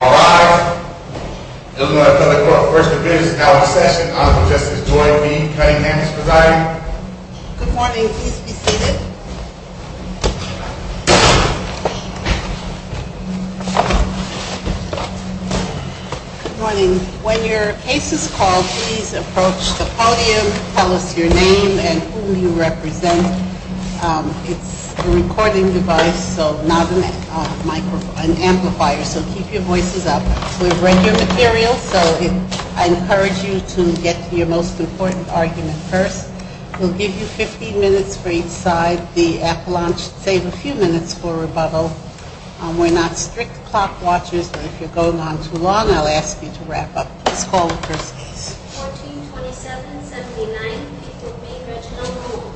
Good morning. When your case is called, please approach the podium, tell us your name and whom you represent. It's a recording device, so not an amplifier, so keep your voice down. We've read your material, so I encourage you to get to your most important argument first. We'll give you 15 minutes for each side. The appellant should save a few minutes for rebuttal. We're not strict clock watchers, but if you're going on too long, I'll ask you to wrap up. Please call the first case. 1427-79, Reginald Malone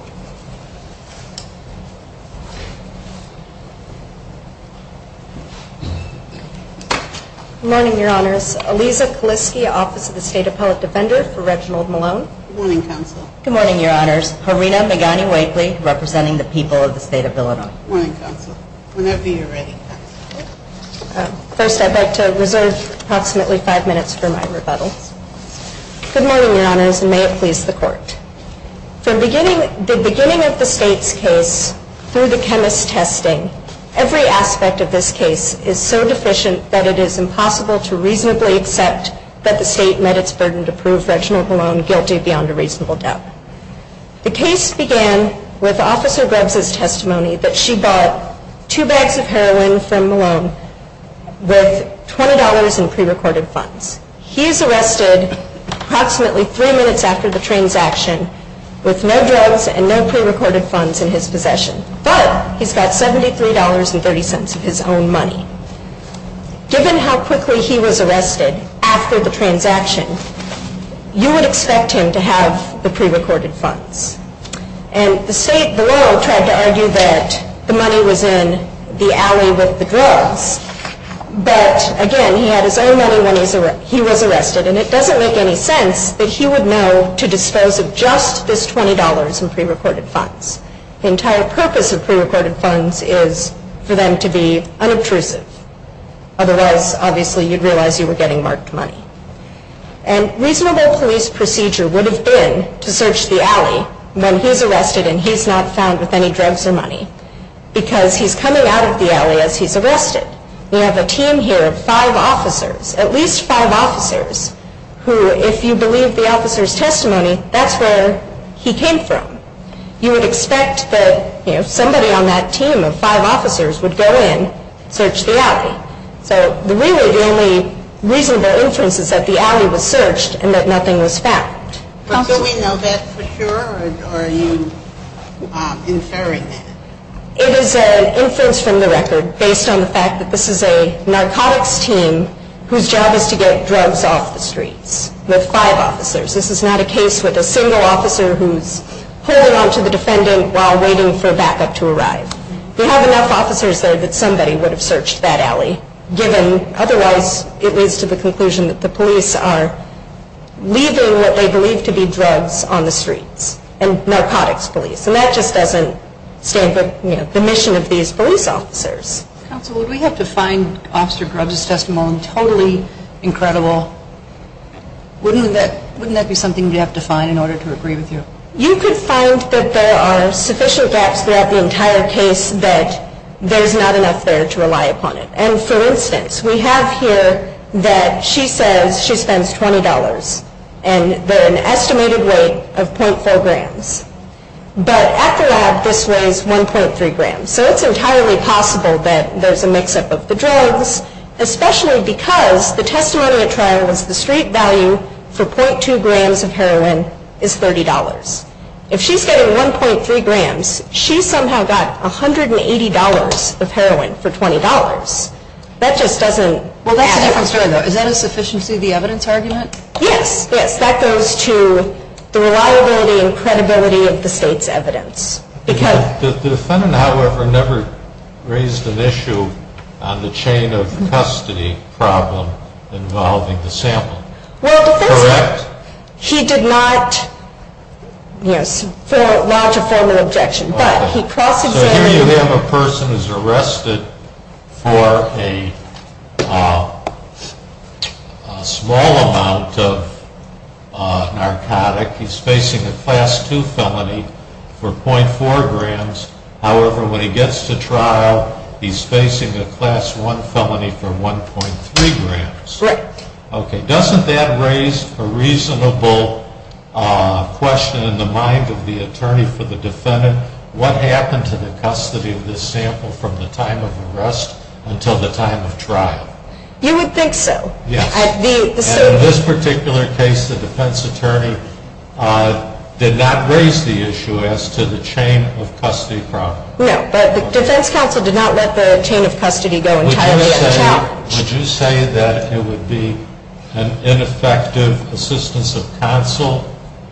Good morning, Your Honors. Aliza Kaliske, Office of the State Appellate Defender for Reginald Malone. Good morning, Counsel. Good morning, Your Honors. Harina Megani-Wakely, representing the people of the State of Illinois. Good morning, Counsel. Whenever you're ready, Counsel. First, I'd like to reserve approximately five minutes for my rebuttal. Good morning, Your Honors, and may it please the Court. From the beginning of the State's case, through the chemist's testing, every aspect of this case is so deficient that it is impossible to reasonably accept that the State met its burden to prove Reginald Malone guilty beyond a reasonable doubt. The case began with Officer Grubbs' testimony that she bought two bags of heroin from Malone with $20 in pre-recorded funds. He is arrested approximately three minutes after the transaction with no drugs and no pre-recorded funds in his possession, but he's got $73.30 of his own money. Given how quickly he was arrested after the transaction, you would expect him to have the pre-recorded funds. And the State, the lawyer, tried to argue that the money was in the alley with the drugs, but again, he had his own money when he was arrested, and it doesn't make any sense that he would know to dispose of just this $20 in pre-recorded funds. The entire purpose of pre-recorded funds is for them to be unobtrusive. Otherwise, obviously, you'd realize you were getting marked money. And reasonable police procedure would have been to search the alley when he's arrested and he's not found with any drugs or money because he's coming out of the alley as he's arrested. We have a team here of five officers, at least five officers, who if you believe the officer's testimony, that's where he came from. You would expect that, you know, somebody on that team of five officers would go in, search the alley. So really the only reasonable inference is that the alley was searched and that nothing was found. But do we know that for sure, or are you inferring that? It is an inference from the record based on the fact that this is a narcotics team whose job is to get drugs off the streets with five officers. This is not a case with a single officer who's holding on to the defendant while waiting for backup to arrive. We have enough officers there that somebody would have searched that alley, given otherwise it leads to the conclusion that the police are leaving what they believe to be drugs on the streets, and narcotics police. And that just doesn't stand for the mission of these police officers. Counsel, would we have to find Officer Grubbs' testimony? Totally incredible. Wouldn't that be something we'd have to find in order to agree with you? You could find that there are sufficient gaps throughout the entire case that there's not enough there to rely upon it. And for instance, we have here that she says she spends $20, and an estimated weight of .4 grams. But at the lab, this weighs 1.3 grams. So it's entirely possible that there's a mix-up of the drugs, especially because the testimony at trial was the street value for .2 grams of heroin is $30. If she's getting 1.3 grams, she's somehow got $180 of heroin for $20. That just doesn't add up. Well, that's a different story, though. Is that a sufficiency of the evidence argument? Yes, yes. That goes to the reliability and credibility of the State's evidence. The defendant, however, never raised an issue on the chain of custody problem involving the sample. Well, the defendant, he did not lodge a formal objection. So here you have a person who's arrested for a small amount of narcotic. He's facing a Class 2 felony for .4 grams. However, when he gets to trial, he's facing a Class 1 felony for 1.3 grams. Correct. Okay. Doesn't that raise a reasonable question in the mind of the attorney for the defendant? What happened to the custody of this sample from the time of arrest until the time of trial? You would think so. Yes. And in this particular case, the defense attorney did not raise the issue as to the chain of custody problem. No. But the defense counsel did not let the chain of custody go entirely unchallenged. Would you say that it would be an ineffective assistance of counsel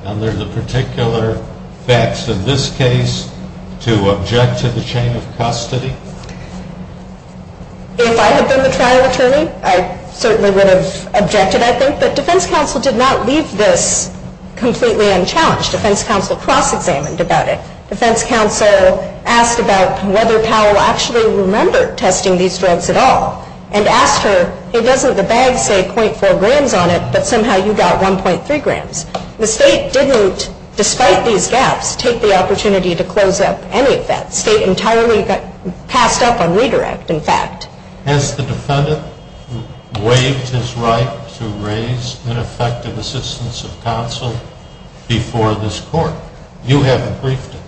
under the particular facts of this case to object to the chain of custody? If I had been the trial attorney, I certainly would have objected, I think. But defense counsel did not leave this completely unchallenged. Defense counsel cross-examined about it. Defense counsel asked about whether Powell actually remembered testing these drugs at all and asked her, hey, doesn't the bag say .4 grams on it, but somehow you got 1.3 grams? The State didn't, despite these gaps, take the opportunity to close up any of that. The State entirely passed up on redirect, in fact. Has the defendant waived his right to raise ineffective assistance of counsel before this court? You haven't briefed him.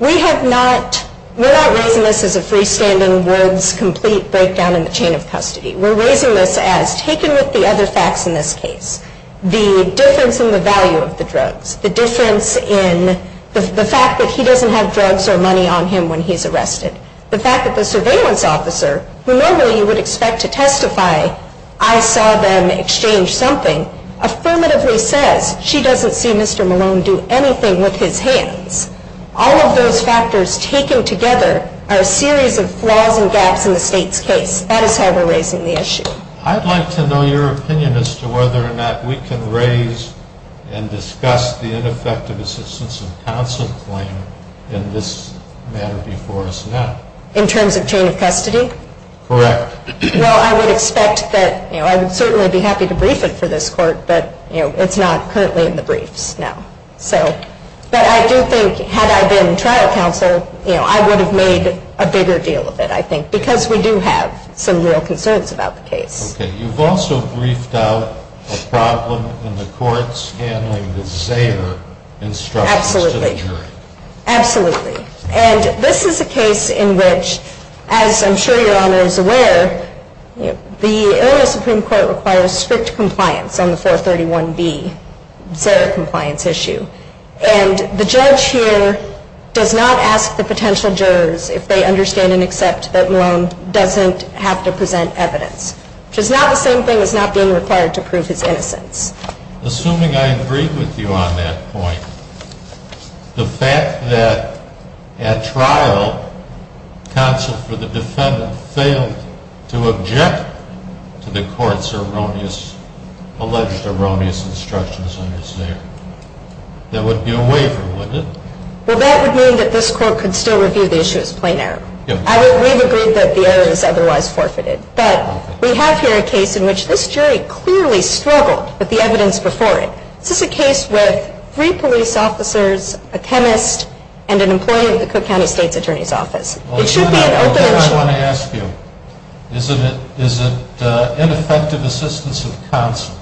We have not. We're not raising this as a freestanding, words-complete breakdown in the chain of custody. We're raising this as, taken with the other facts in this case, the difference in the value of the drugs, the difference in the fact that he doesn't have drugs or money on him when he's arrested, the fact that the surveillance officer, who normally you would expect to testify, I saw them exchange something, affirmatively says she doesn't see Mr. Malone do anything with his hands. All of those factors taken together are a series of flaws and gaps in the State's case. That is how we're raising the issue. I'd like to know your opinion as to whether or not we can raise and discuss the ineffective assistance of counsel claim in this matter before us now. In terms of chain of custody? Correct. Well, I would expect that, you know, I would certainly be happy to brief it for this court, but, you know, it's not currently in the briefs now. But I do think, had I been trial counsel, you know, I would have made a bigger deal of it, I think, because we do have some real concerns about the case. Okay. You've also briefed out a problem in the courts handling the Zayer instructions to the jury. Absolutely. Absolutely. And this is a case in which, as I'm sure Your Honor is aware, the Illinois Supreme Court requires strict compliance on the 431B Zayer compliance issue. And the judge here does not ask the potential jurors if they understand and accept that Malone doesn't have to present evidence, which is not the same thing as not being required to prove his innocence. Assuming I agree with you on that point, the fact that at trial, counsel for the defendant failed to object to the court's erroneous, alleged erroneous instructions on his Zayer, that would be a waiver, wouldn't it? Well, that would mean that this court could still review the issue as plain error. Yes. We've agreed that the error is otherwise forfeited. Okay. We have here a case in which this jury clearly struggled with the evidence before it. This is a case with three police officers, a chemist, and an employee of the Cook County State's Attorney's Office. It should be an open issue. I want to ask you, is it ineffective assistance of counsel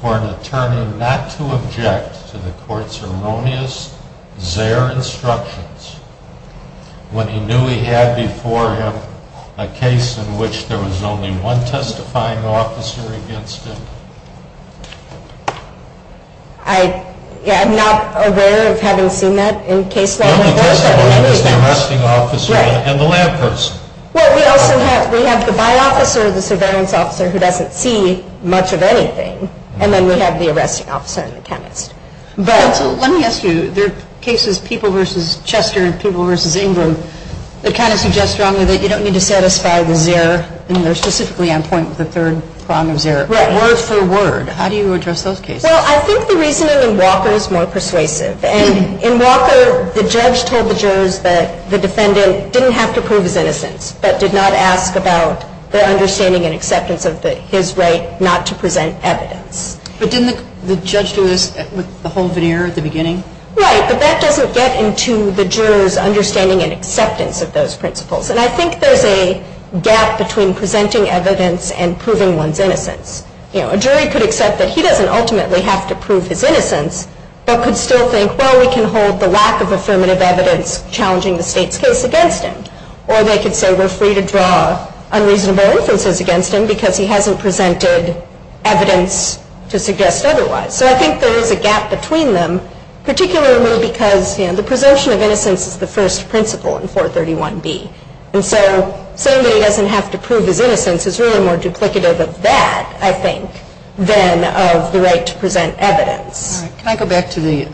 for an attorney not to object to the court's erroneous Zayer instructions when he knew he had before him a case in which there was only one testifying officer against him? I'm not aware of having seen that in case law before. The only testifying officer is the arresting officer and the lab person. Well, we also have the by-officer, the surveillance officer, who doesn't see much of anything, and then we have the arresting officer and the chemist. Counsel, let me ask you. There are cases, People v. Chester and People v. Ingram, that kind of suggest strongly that you don't need to satisfy the Zayer, and they're specifically on point with the third prong of Zayer. Right. Word for word. How do you address those cases? Well, I think the reasoning in Walker is more persuasive. And in Walker, the judge told the jurors that the defendant didn't have to prove his innocence but did not ask about their understanding and acceptance of his right not to present evidence. But didn't the judge do this with the whole veneer at the beginning? Right. But that doesn't get into the jurors' understanding and acceptance of those principles. And I think there's a gap between presenting evidence and proving one's innocence. A jury could accept that he doesn't ultimately have to prove his innocence but could still think, well, we can hold the lack of affirmative evidence challenging the state's case against him. Or they could say we're free to draw unreasonable inferences against him because he hasn't presented evidence to suggest otherwise. So I think there is a gap between them, particularly because, you know, the preservation of innocence is the first principle in 431B. And so saying that he doesn't have to prove his innocence is really more duplicative of that, I think, than of the right to present evidence. Can I go back to the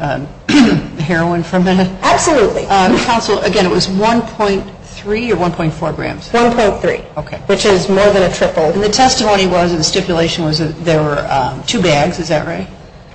heroin for a minute? Absolutely. Counsel, again, it was 1.3 or 1.4 grams? 1.3. Okay. Which is more than a triple. And the testimony was and the stipulation was that there were two bags. Is that right?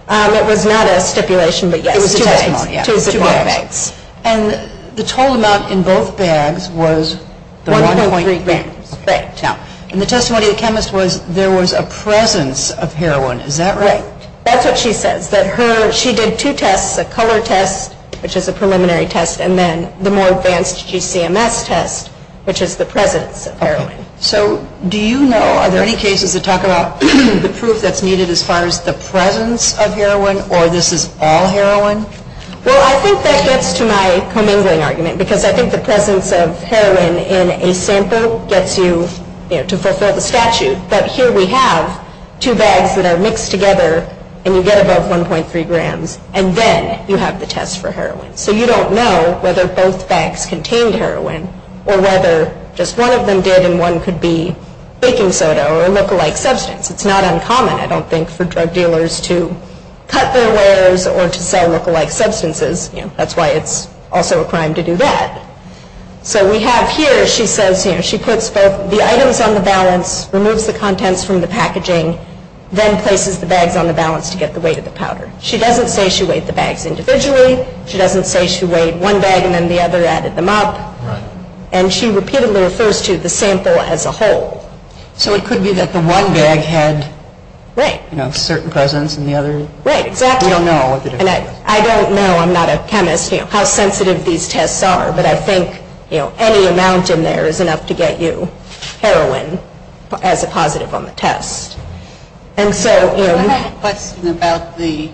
It was not a stipulation but, yes, two bags. Two bags. And the total amount in both bags was the 1.3 grams. Right. And the testimony of the chemist was there was a presence of heroin. Is that right? Right. That's what she says, that she did two tests, a color test, which is a preliminary test, and then the more advanced GCMS test, which is the presence of heroin. So do you know, are there any cases that talk about the proof that's needed as far as the presence of heroin or this is all heroin? Well, I think that gets to my commingling argument because I think the presence of heroin in a sample gets you, you know, to fulfill the statute. But here we have two bags that are mixed together and you get above 1.3 grams and then you have the test for heroin. So you don't know whether both bags contained heroin or whether just one of them did and one could be baking soda or a lookalike substance. It's not uncommon, I don't think, for drug dealers to cut their wares or to sell lookalike substances. You know, that's why it's also a crime to do that. So we have here, she says, you know, she puts both the items on the balance, removes the contents from the packaging, then places the bags on the balance to get the weight of the powder. She doesn't say she weighed the bags individually. She doesn't say she weighed one bag and then the other added them up. Right. And she repeatedly refers to the sample as a whole. So it could be that the one bag had, you know, certain presence and the other. Right, exactly. We don't know. And I don't know, I'm not a chemist, you know, how sensitive these tests are, but I think, you know, any amount in there is enough to get you heroin as a positive on the test. I have a question about the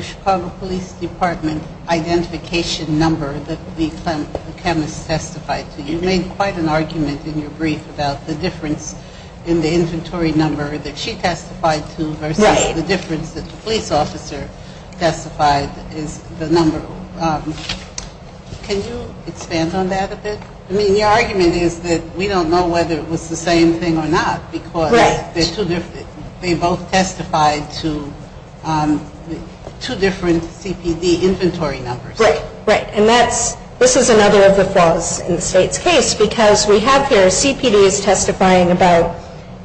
Chicago Police Department identification number that the chemist testified to. You made quite an argument in your brief about the difference in the inventory number that she testified to versus the difference that the police officer testified is the number. Can you expand on that a bit? I mean, the argument is that we don't know whether it was the same thing or not because they both testified to two different CPD inventory numbers. Right, right. And this is another of the flaws in the state's case because we have here CPDs testifying about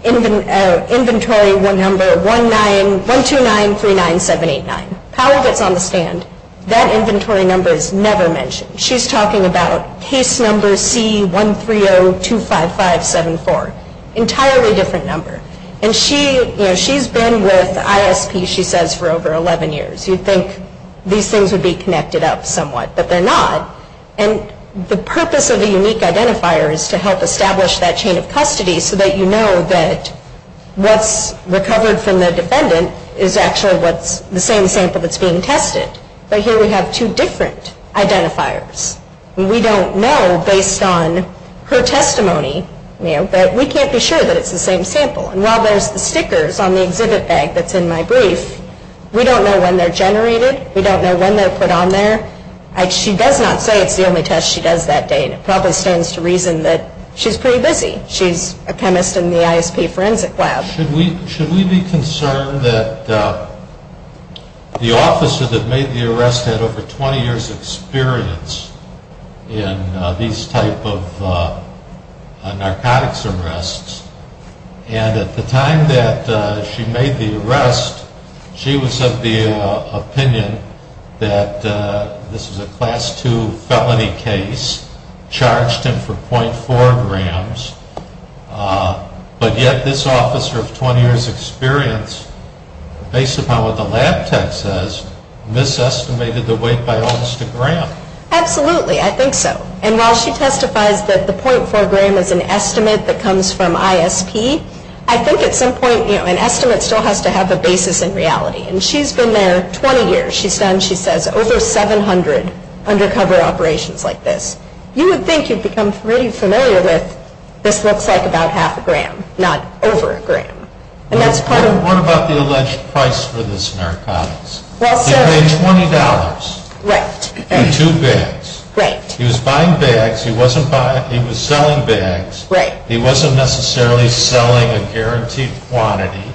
inventory number 12939789. Powell gets on the stand. That inventory number is never mentioned. She's talking about case number C13025574, entirely different number. And she, you know, she's been with ISP, she says, for over 11 years. You'd think these things would be connected up somewhat, but they're not. And the purpose of the unique identifier is to help establish that chain of custody so that you know that what's recovered from the defendant is actually what's the same sample that's being tested. But here we have two different identifiers. We don't know based on her testimony, you know, that we can't be sure that it's the same sample. And while there's the stickers on the exhibit bag that's in my brief, we don't know when they're generated. We don't know when they're put on there. She does not say it's the only test she does that day, and it probably stands to reason that she's pretty busy. She's a chemist in the ISP forensic lab. Should we be concerned that the officer that made the arrest had over 20 years' experience in these type of narcotics arrests? And at the time that she made the arrest, she was of the opinion that this was a Class II felony case, charged him for .4 grams, but yet this officer of 20 years' experience, based upon what the lab tech says, misestimated the weight by almost a gram. Absolutely. I think so. And while she testifies that the .4 gram is an estimate that comes from ISP, I think at some point, you know, an estimate still has to have a basis in reality. And she's been there 20 years. She's done, she says, over 700 undercover operations like this. You would think you'd become pretty familiar with this looks like about half a gram, not over a gram. What about the alleged price for this narcotics? He paid $20 for two bags. Right. He was buying bags. He was selling bags. Right. He wasn't necessarily selling a guaranteed quantity.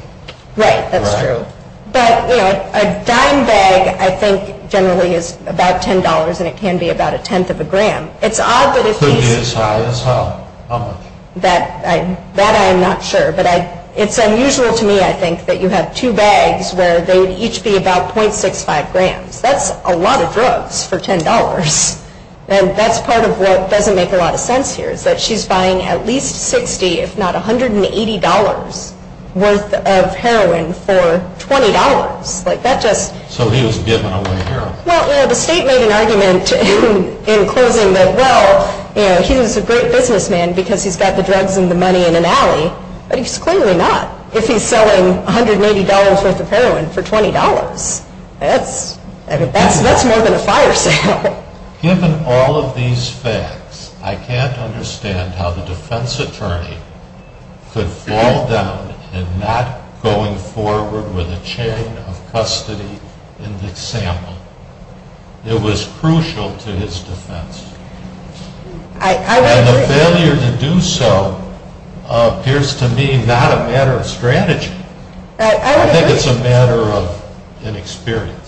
Right. That's true. But, you know, a dime bag, I think, generally is about $10, and it can be about a tenth of a gram. It's odd that if he's Could be as high as how much? That I'm not sure. But it's unusual to me, I think, that you have two bags where they would each be about .65 grams. That's a lot of drugs for $10. And that's part of what doesn't make a lot of sense here is that she's buying at least 60, if not $180 worth of heroin for $20. Like, that just So he was giving away heroin. Well, you know, the state made an argument in closing that, well, you know, he was a great businessman because he's got the drugs and the money in an alley, but he's clearly not. If he's selling $180 worth of heroin for $20, that's more than a fire sale. Given all of these facts, I can't understand how the defense attorney could fall down and not going forward with a chain of custody in the sample. It was crucial to his defense. And the failure to do so appears to me not a matter of strategy. I think it's a matter of inexperience.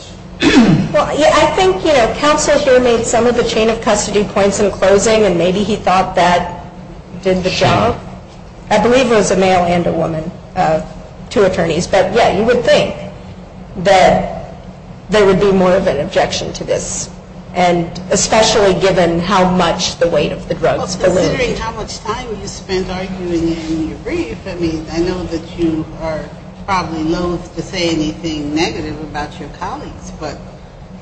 Well, I think, you know, counsel here made some of the chain of custody points in closing and maybe he thought that did the job. I believe it was a male and a woman, two attorneys. But, yeah, you would think that there would be more of an objection to this, and especially given how much the weight of the drugs. Considering how much time you spent arguing in your brief, I mean, I know that you are probably loathe to say anything negative about your colleagues, but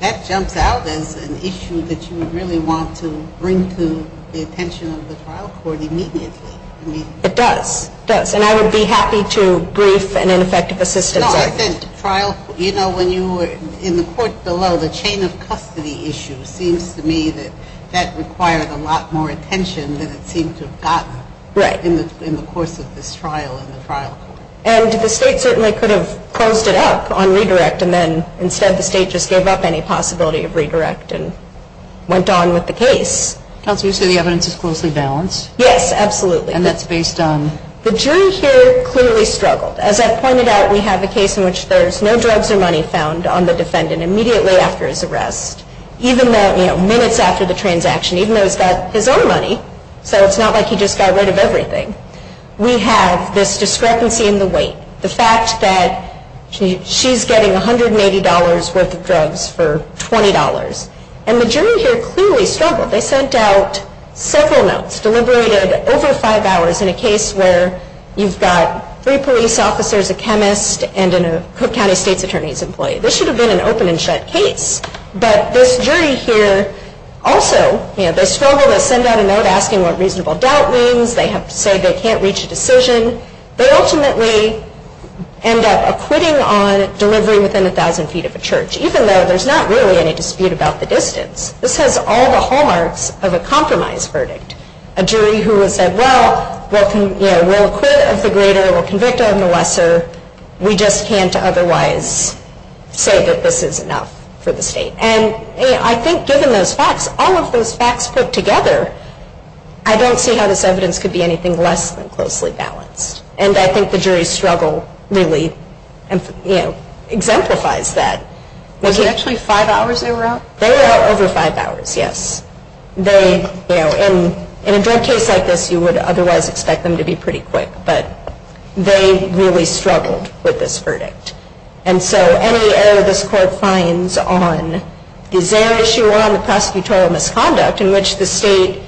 that jumps out as an issue that you would really want to bring to the attention of the trial court immediately. It does. It does. And I would be happy to brief an ineffective assistant. No, I think trial, you know, when you were in the court below, the chain of custody issue seems to me that that required a lot more attention than it seemed to have gotten in the course of this trial in the trial court. And the state certainly could have closed it up on redirect and then instead the state just gave up any possibility of redirect and went on with the case. Counsel, you say the evidence is closely balanced? Yes, absolutely. And that's based on? The jury here clearly struggled. As I pointed out, we have a case in which there's no drugs or money found on the defendant immediately after his arrest, even though, you know, two minutes after the transaction, even though he's got his own money, so it's not like he just got rid of everything. We have this discrepancy in the weight, the fact that she's getting $180 worth of drugs for $20. And the jury here clearly struggled. They sent out several notes, deliberated over five hours, in a case where you've got three police officers, a chemist, and a Cook County State's Attorney's employee. This should have been an open and shut case. But this jury here also, you know, they struggle. They send out a note asking what reasonable doubt means. They have to say they can't reach a decision. They ultimately end up acquitting on delivery within 1,000 feet of a church, even though there's not really any dispute about the distance. This has all the hallmarks of a compromise verdict, a jury who has said, well, we'll acquit of the greater, we'll convict of the lesser, we just can't otherwise say that this is enough for the state. And I think given those facts, all of those facts put together, I don't see how this evidence could be anything less than closely balanced. And I think the jury's struggle really exemplifies that. Was it actually five hours they were out? They were out over five hours, yes. In a drug case like this, you would otherwise expect them to be pretty quick. But they really struggled with this verdict. And so any error this court finds on the Zaire issue or on the prosecutorial misconduct in which the state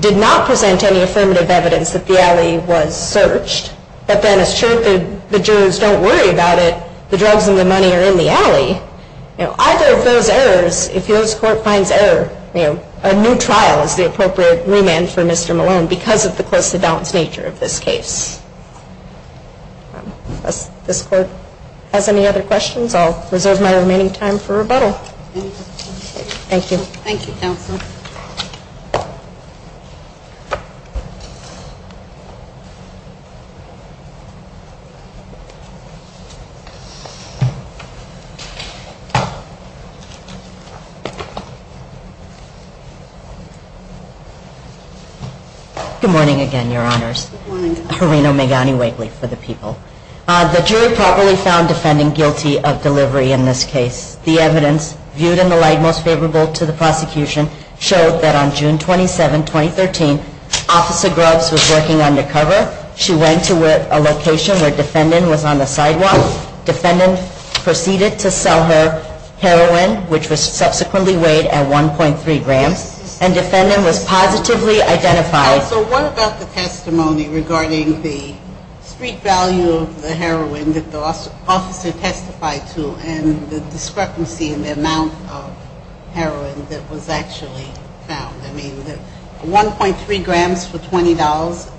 did not present any affirmative evidence that the alley was searched, but then assured the jurors don't worry about it, the drugs and the money are in the alley, either of those errors, if this court finds error, a new trial is the appropriate remand for Mr. Malone because of the closely balanced nature of this case. Unless this court has any other questions, I'll reserve my remaining time for rebuttal. Thank you, counsel. Good morning again, Your Honors. Good morning, counsel. Harino Megani-Wakely for the people. The jury properly found defendant guilty of delivery in this case. The evidence, viewed in the light most favorable to the prosecution, showed that on June 27, 2013, Officer Grubbs was working undercover. She went to a location where defendant was on the sidewalk. Defendant proceeded to sell her heroin, which was subsequently weighed at 1.3 grams. And defendant was positively identified. Counsel, what about the testimony regarding the street value of the heroin that the officer testified to and the discrepancy in the amount of heroin that was actually found? I mean, 1.3 grams for $20?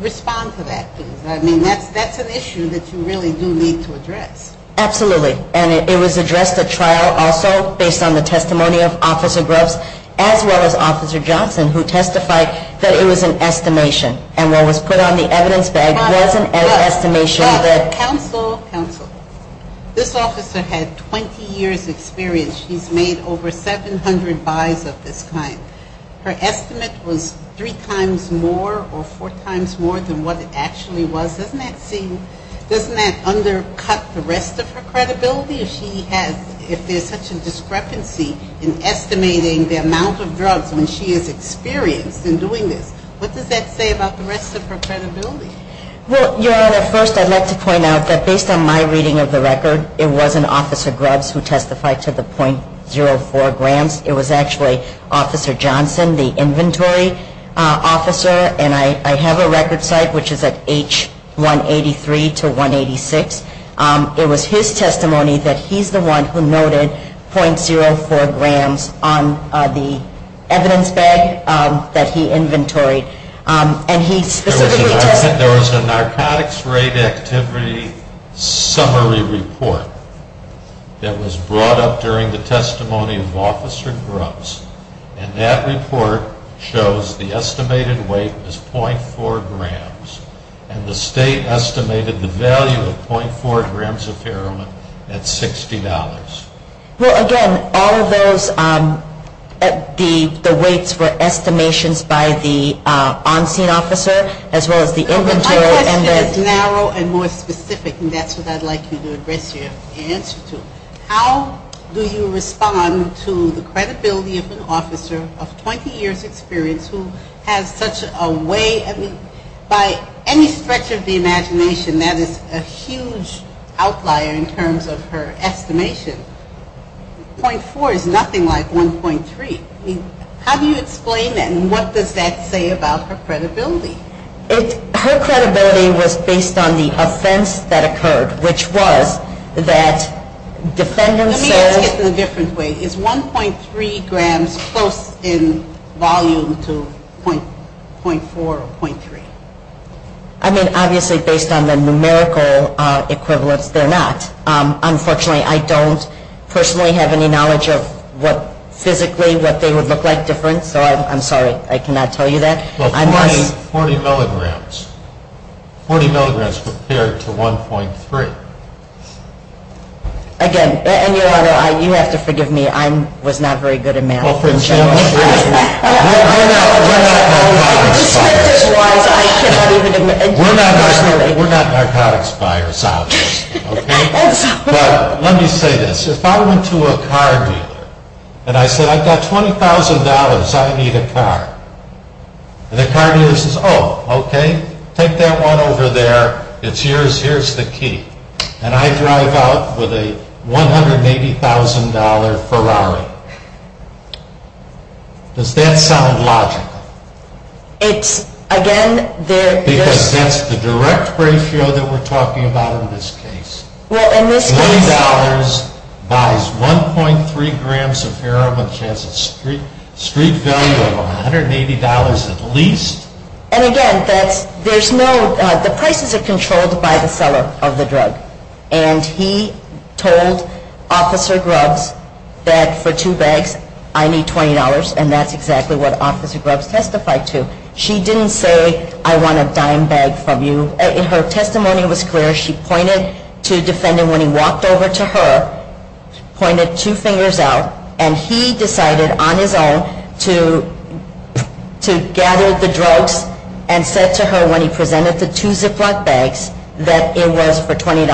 Respond to that, please. I mean, that's an issue that you really do need to address. Absolutely. And it was addressed at trial also based on the testimony of Officer Grubbs as well as Officer Johnson, who testified that it was an estimation. And what was put on the evidence bag was an estimation. Counsel, counsel. This officer had 20 years' experience. She's made over 700 buys of this kind. Her estimate was three times more or four times more than what it actually was. Doesn't that undercut the rest of her credibility if there's such a discrepancy in estimating the amount of drugs when she is experienced in doing this? What does that say about the rest of her credibility? Well, Your Honor, first I'd like to point out that based on my reading of the record, it wasn't Officer Grubbs who testified to the .04 grams. It was actually Officer Johnson, the inventory officer. And I have a record site, which is at H183 to 186. It was his testimony that he's the one who noted .04 grams on the evidence bag that he inventoried. And he specifically testified. There was a narcotics rate activity summary report that was brought up during the testimony of Officer Grubbs. And that report shows the estimated weight was .04 grams. And the State estimated the value of .04 grams of heroin at $60. Well, again, all of those, the weights were estimations by the on-scene officer as well as the inventory. My question is narrow and more specific, and that's what I'd like you to address your answer to. How do you respond to the credibility of an officer of 20 years' experience who has such a way? I mean, by any stretch of the imagination, that is a huge outlier in terms of her estimation. .4 is nothing like 1.3. I mean, how do you explain that, and what does that say about her credibility? Her credibility was based on the offense that occurred, which was that defendants said. Let me ask it in a different way. Is 1.3 grams close in volume to .4 or .3? I mean, obviously, based on the numerical equivalence, they're not. Unfortunately, I don't personally have any knowledge of what physically what they would look like different. So I'm sorry. I cannot tell you that. Well, 40 milligrams. 40 milligrams compared to 1.3. Again, and, Your Honor, you have to forgive me. I was not very good at math. Well, for example, we're not narcotics buyers. We're not narcotics buyers, obviously, okay? But let me say this. If I went to a car dealer and I said, I've got $20,000. I need a car. And the car dealer says, oh, okay, take that one over there. It's yours. Here's the key. And I drive out with a $180,000 Ferrari. Does that sound logical? It's, again, there. Because that's the direct ratio that we're talking about in this case. $20 buys 1.3 grams of heroin, which has a street value of $180 at least. And, again, there's no the prices are controlled by the seller of the drug. And he told Officer Grubbs that for two bags I need $20, and that's exactly what Officer Grubbs testified to. She didn't say I want a dime bag from you. Her testimony was clear. She pointed to a defendant when he walked over to her, pointed two fingers out, and he decided on his own to gather the drugs and said to her when he presented the two Ziploc bags that it was for $20.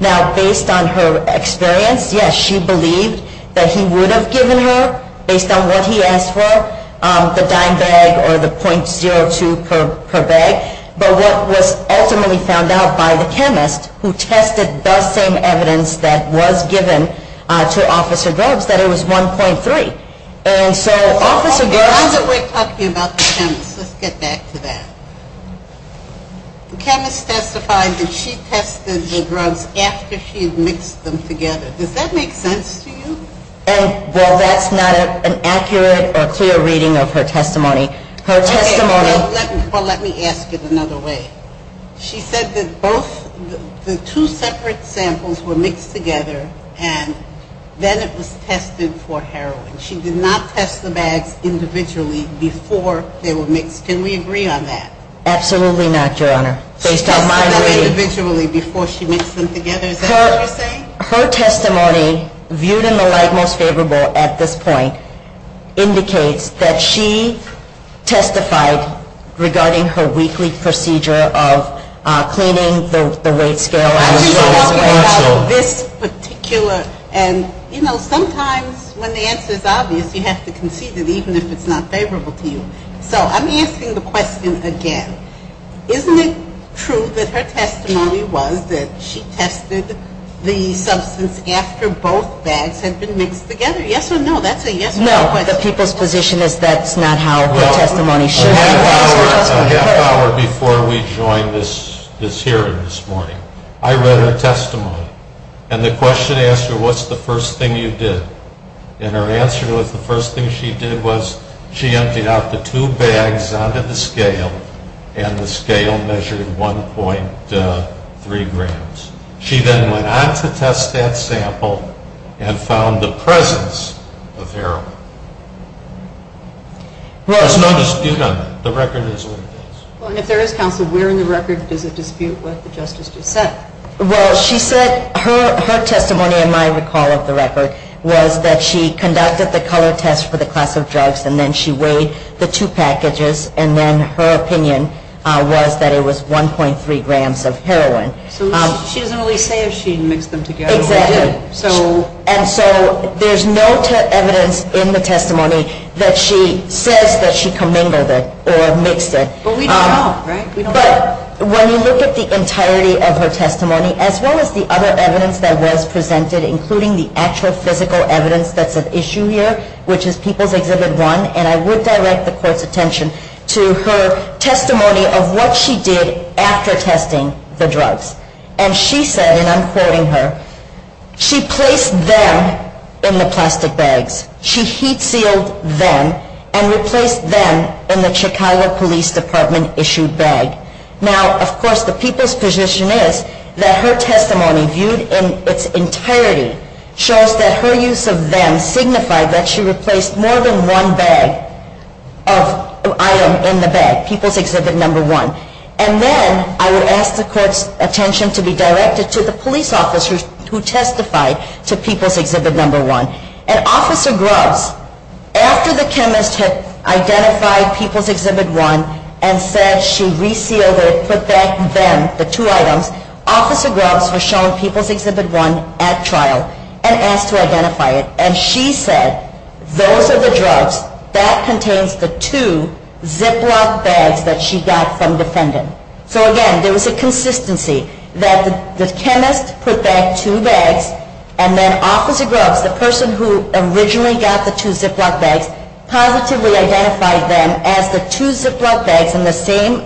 Now, based on her experience, yes, she believed that he would have given her, based on what he asked for, the dime bag or the .02 per bag. But what was ultimately found out by the chemist, who tested the same evidence that was given to Officer Grubbs, that it was 1.3. And so Officer Grubbs Now that we're talking about the chemist, let's get back to that. The chemist testified that she tested the drugs after she mixed them together. Does that make sense to you? Well, that's not an accurate or clear reading of her testimony. Her testimony Well, let me ask it another way. She said that both the two separate samples were mixed together and then it was tested for heroin. She did not test the bags individually before they were mixed. Can we agree on that? Absolutely not, Your Honor. Based on my reading She tested them individually before she mixed them together. Is that what you're saying? Her testimony, viewed in the light most favorable at this point, indicates that she testified regarding her weekly procedure of cleaning the weight scale. I'm just talking about this particular and, you know, sometimes when the answer is obvious, you have to concede it, even if it's not favorable to you. So I'm asking the question again. Isn't it true that her testimony was that she tested the substance after both bags had been mixed together? Yes or no? That's a yes or no question. No. The people's position is that's not how her testimony should be. Well, a half hour before we joined this hearing this morning, I read her testimony. And the question asked her, what's the first thing you did? And her answer was the first thing she did was she emptied out the two bags onto the scale and the scale measured 1.3 grams. She then went on to test that sample and found the presence of heroin. There's no dispute on that. The record is what it is. Well, and if there is, counsel, where in the record does it dispute what the justice just said? Well, she said her testimony, in my recall of the record, was that she conducted the color test for the class of drugs, and then she weighed the two packages, and then her opinion was that it was 1.3 grams of heroin. So she doesn't really say if she mixed them together or didn't. Exactly. And so there's no evidence in the testimony that she says that she commingled it or mixed it. But we don't know, right? But when you look at the entirety of her testimony, as well as the other evidence that was presented, including the actual physical evidence that's at issue here, which is People's Exhibit 1, and I would direct the Court's attention to her testimony of what she did after testing the drugs. And she said, and I'm quoting her, she placed them in the plastic bags. She heat-sealed them and replaced them in the Chicago Police Department-issued bag. Now, of course, the people's position is that her testimony, viewed in its entirety, shows that her use of them signified that she replaced more than one bag of item in the bag, People's Exhibit 1. And then I would ask the Court's attention to be directed to the police officer who testified to People's Exhibit 1. And Officer Grubbs, after the chemist had identified People's Exhibit 1 and said she resealed it, put back them, the two items, Officer Grubbs was shown People's Exhibit 1 at trial and asked to identify it. And she said, those are the drugs. That contains the two Ziploc bags that she got from the defendant. So, again, there was a consistency that the chemist put back two bags, and then Officer Grubbs, the person who originally got the two Ziploc bags, positively identified them as the two Ziploc bags in the same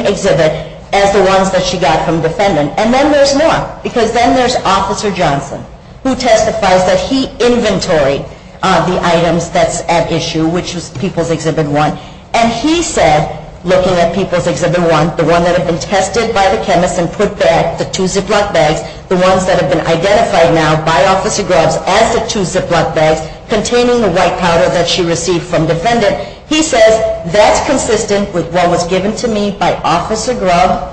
exhibit as the ones that she got from the defendant. And then there's more. Because then there's Officer Johnson, who testifies that he inventoried the items that's at issue, which was People's Exhibit 1. And he said, looking at People's Exhibit 1, the one that had been tested by the chemist and put back the two Ziploc bags, the ones that have been identified now by Officer Grubbs as the two Ziploc bags containing the white powder that she received from the defendant, he says, that's consistent with what was given to me by Officer Grubbs.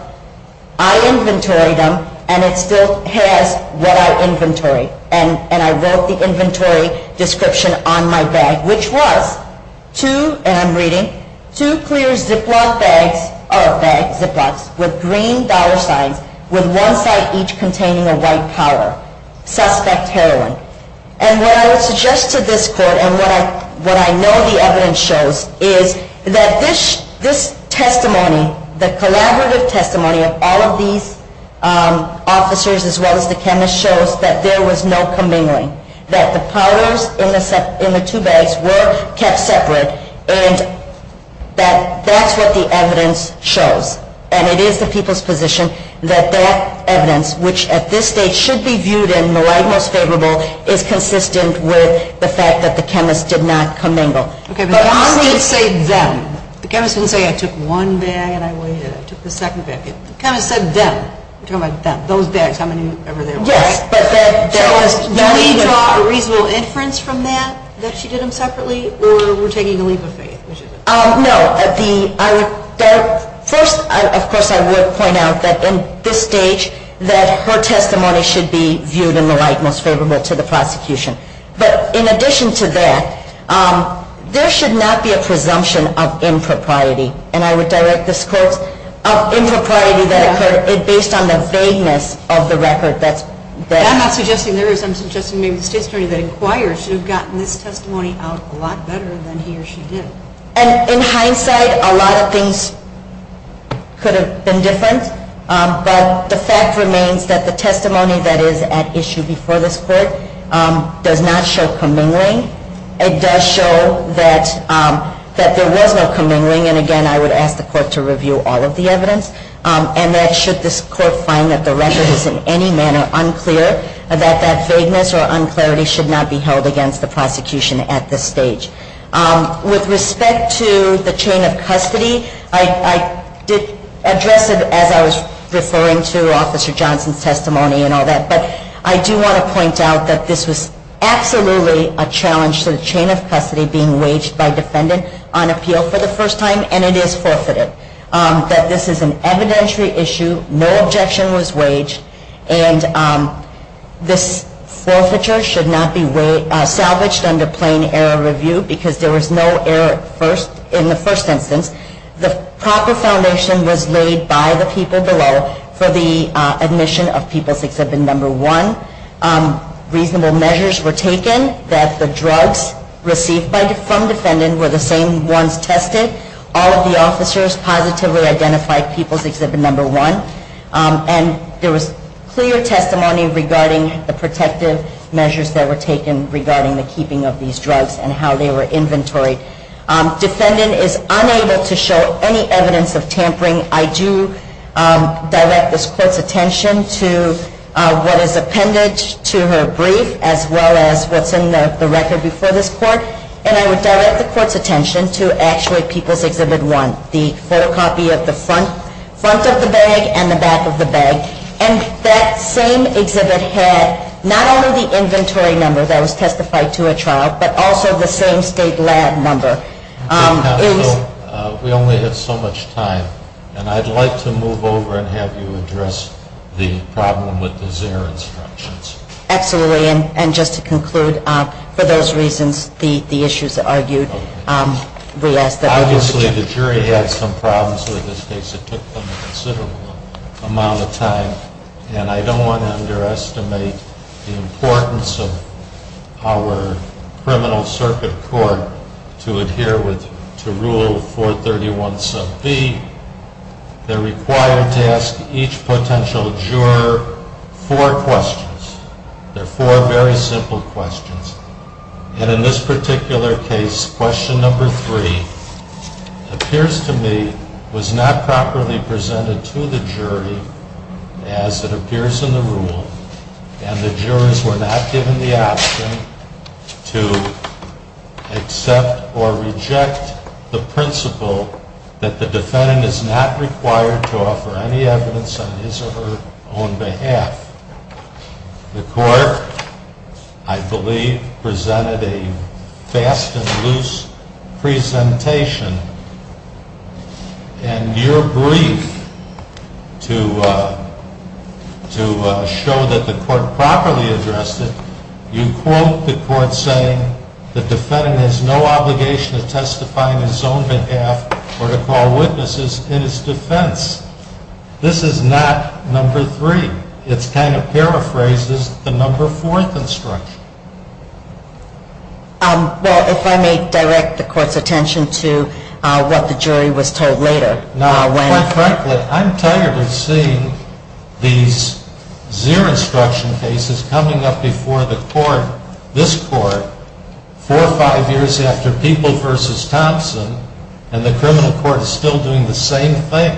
I inventoried them, and it still has what I inventoried. And I wrote the inventory description on my bag, which was two, and I'm reading, two clear Ziploc bags, or Ziplocs, with green dollar signs, with one side each containing a white powder, suspect heroin. And what I would suggest to this court, and what I know the evidence shows, is that this testimony, the collaborative testimony of all of these officers, as well as the chemist, shows that there was no commingling, that the powders in the two bags were kept separate, and that that's what the evidence shows. And it is the people's position that that evidence, which at this stage should be viewed in the light most favorable, is consistent with the fact that the chemist did not commingle. Okay, but the chemist didn't say them. The chemist didn't say, I took one bag and I waited, I took the second bag. The chemist said them. You're talking about them, those bags, how many were there? Yes. Do we draw a reasonable inference from that, that she did them separately, or we're taking a leap of faith? No, first, of course, I would point out that in this stage, that her testimony should be viewed in the light most favorable to the prosecution. But in addition to that, there should not be a presumption of impropriety. And I would direct this quote of impropriety that occurred based on the vagueness of the record. I'm not suggesting there is. I'm suggesting maybe the state attorney that inquires should have gotten this testimony out a lot better than he or she did. And in hindsight, a lot of things could have been different. But the fact remains that the testimony that is at issue before this court does not show commingling. It does show that there was no commingling. And again, I would ask the court to review all of the evidence. And that should this court find that the record is in any manner unclear, that that vagueness or unclarity should not be held against the prosecution at this stage. With respect to the chain of custody, I did address it as I was referring to Officer Johnson's testimony and all that. But I do want to point out that this was absolutely a challenge to the chain of custody being waged by defendant on appeal for the first time. And it is forfeited. That this is an evidentiary issue. No objection was waged. And this forfeiture should not be salvaged under plain error review because there was no error in the first instance. The proper foundation was laid by the people below for the admission of People's Exhibit No. 1. Reasonable measures were taken that the drugs received from defendant were the same ones tested. All of the officers positively identified People's Exhibit No. 1. And there was clear testimony regarding the protective measures that were taken regarding the keeping of these drugs and how they were inventoried. Defendant is unable to show any evidence of tampering. I do direct this court's attention to what is appended to her brief as well as what's in the record before this court. And I would direct the court's attention to actually People's Exhibit 1, the photocopy of the front of the bag and the back of the bag. And that same exhibit had not only the inventory number that was testified to a child, but also the same state lab number. Counsel, we only have so much time. And I'd like to move over and have you address the problem with the Xer instructions. Absolutely. And just to conclude, for those reasons, the issues argued. Obviously, the jury had some problems with this case. It took them a considerable amount of time. And I don't want to underestimate the importance of our criminal circuit court to adhere to Rule 431b. They're required to ask each potential juror four questions. They're four very simple questions. And in this particular case, question number three appears to me was not properly presented to the jury as it appears in the rule. And the jurors were not given the option to accept or reject the principle that the defendant is not required to offer any evidence on his or her own behalf. The court, I believe, presented a fast and loose presentation. And your brief to show that the court properly addressed it, you quote the court saying, the defendant has no obligation to testify on his own behalf or to call witnesses in his defense. This is not number three. It kind of paraphrases the number fourth instruction. Well, if I may direct the court's attention to what the jury was told later. Quite frankly, I'm tired of seeing these Xer instruction cases coming up before the court, this court, four or five years after People v. Thompson, and the criminal court is still doing the same thing.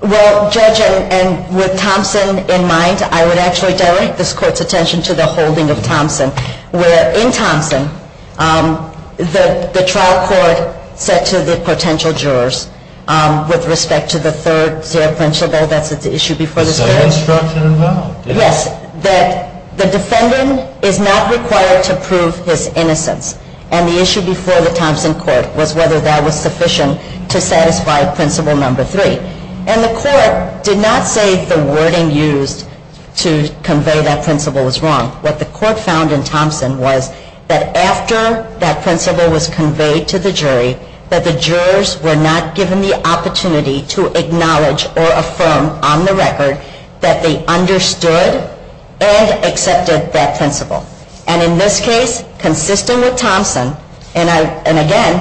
Well, Judge, and with Thompson in mind, I would actually direct this court's attention to the holding of Thompson. Where in Thompson, the trial court said to the potential jurors with respect to the third Xer principle, that's the issue before this case. The second instruction involved. Yes, that the defendant is not required to prove his innocence. And the issue before the Thompson court was whether that was sufficient to satisfy principle number three. And the court did not say the wording used to convey that principle was wrong. What the court found in Thompson was that after that principle was conveyed to the jury, that the jurors were not given the opportunity to acknowledge or affirm on the record that they understood and accepted that principle. And in this case, consistent with Thompson, and again,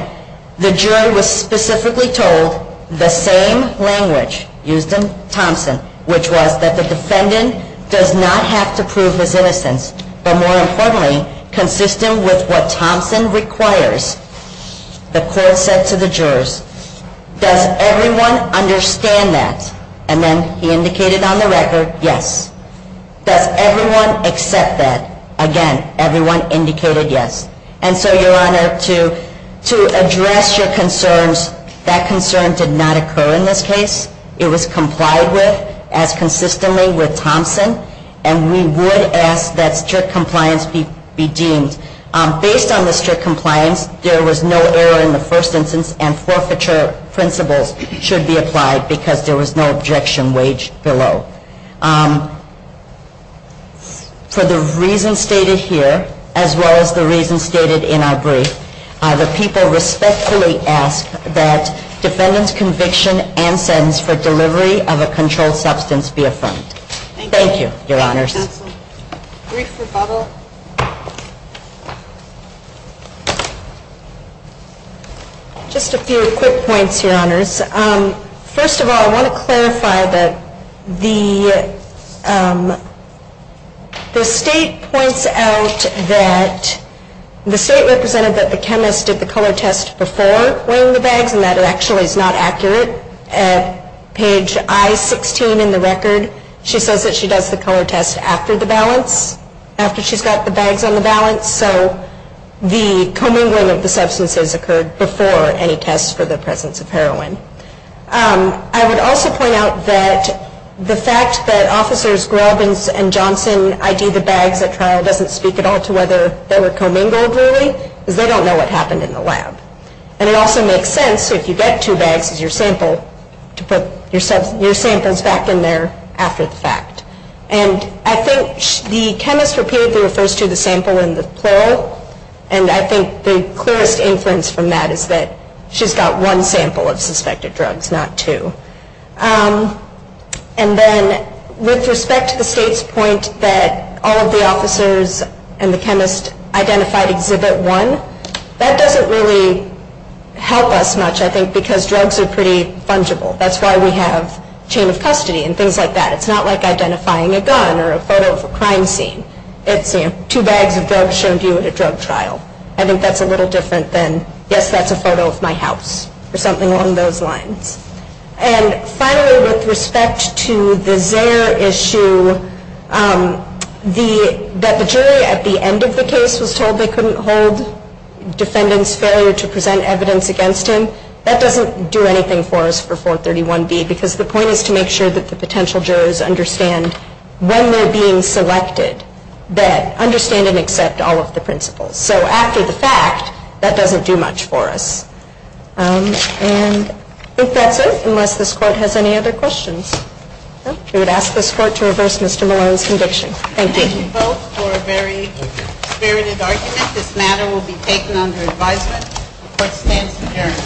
the jury was specifically told the same language used in Thompson, which was that the defendant does not have to prove his innocence. But more importantly, consistent with what Thompson requires, the court said to the jurors, does everyone understand that? And then he indicated on the record, yes. Does everyone accept that? Again, everyone indicated yes. And so, Your Honor, to address your concerns, that concern did not occur in this case. It was complied with as consistently with Thompson. And we would ask that strict compliance be deemed. Based on the strict compliance, there was no error in the first instance, and forfeiture principles should be applied because there was no objection waged below. For the reasons stated here, as well as the reasons stated in our brief, the people respectfully ask that defendant's conviction and sentence for delivery of a controlled substance be affirmed. Thank you, Your Honors. Brief rebuttal. Just a few quick points, Your Honors. First of all, I want to clarify that the state points out that, the state represented that the chemist did the color test before wearing the bags, and that it actually is not accurate. At page I-16 in the record, she says that she does the color test after the balance, after she's got the bags on the balance, so the commingling of the substances occurred before any tests for the presence of heroin. I would also point out that the fact that Officers Grubb and Johnson ID'd the bags at trial doesn't speak at all to whether they were commingled, really, because they don't know what happened in the lab. And it also makes sense, if you get two bags as your sample, to put your samples back in there after the fact. And I think the chemist repeatedly refers to the sample in the plural, and I think the clearest inference from that is that she's got one sample of suspected drugs, not two. And then, with respect to the state's point that all of the officers and the chemist identified Exhibit 1, that doesn't really help us much, I think, because drugs are pretty fungible. That's why we have chain of custody and things like that. It's not like identifying a gun or a photo of a crime scene. It's, you know, two bags of drugs shown to you at a drug trial. I think that's a little different than, yes, that's a photo of my house, or something along those lines. And finally, with respect to the Zare issue, that the jury at the end of the case was told they couldn't hold defendants' failure to present evidence against him, that doesn't do anything for us for 431B, because the point is to make sure that the potential jurors understand when they're being selected, that understand and accept all of the principles. So after the fact, that doesn't do much for us. And I think that's it, unless this Court has any other questions. We would ask this Court to reverse Mr. Malone's conviction. Thank you. Thank you both for a very spirited argument. This matter will be taken under advisement. The Court stands adjourned.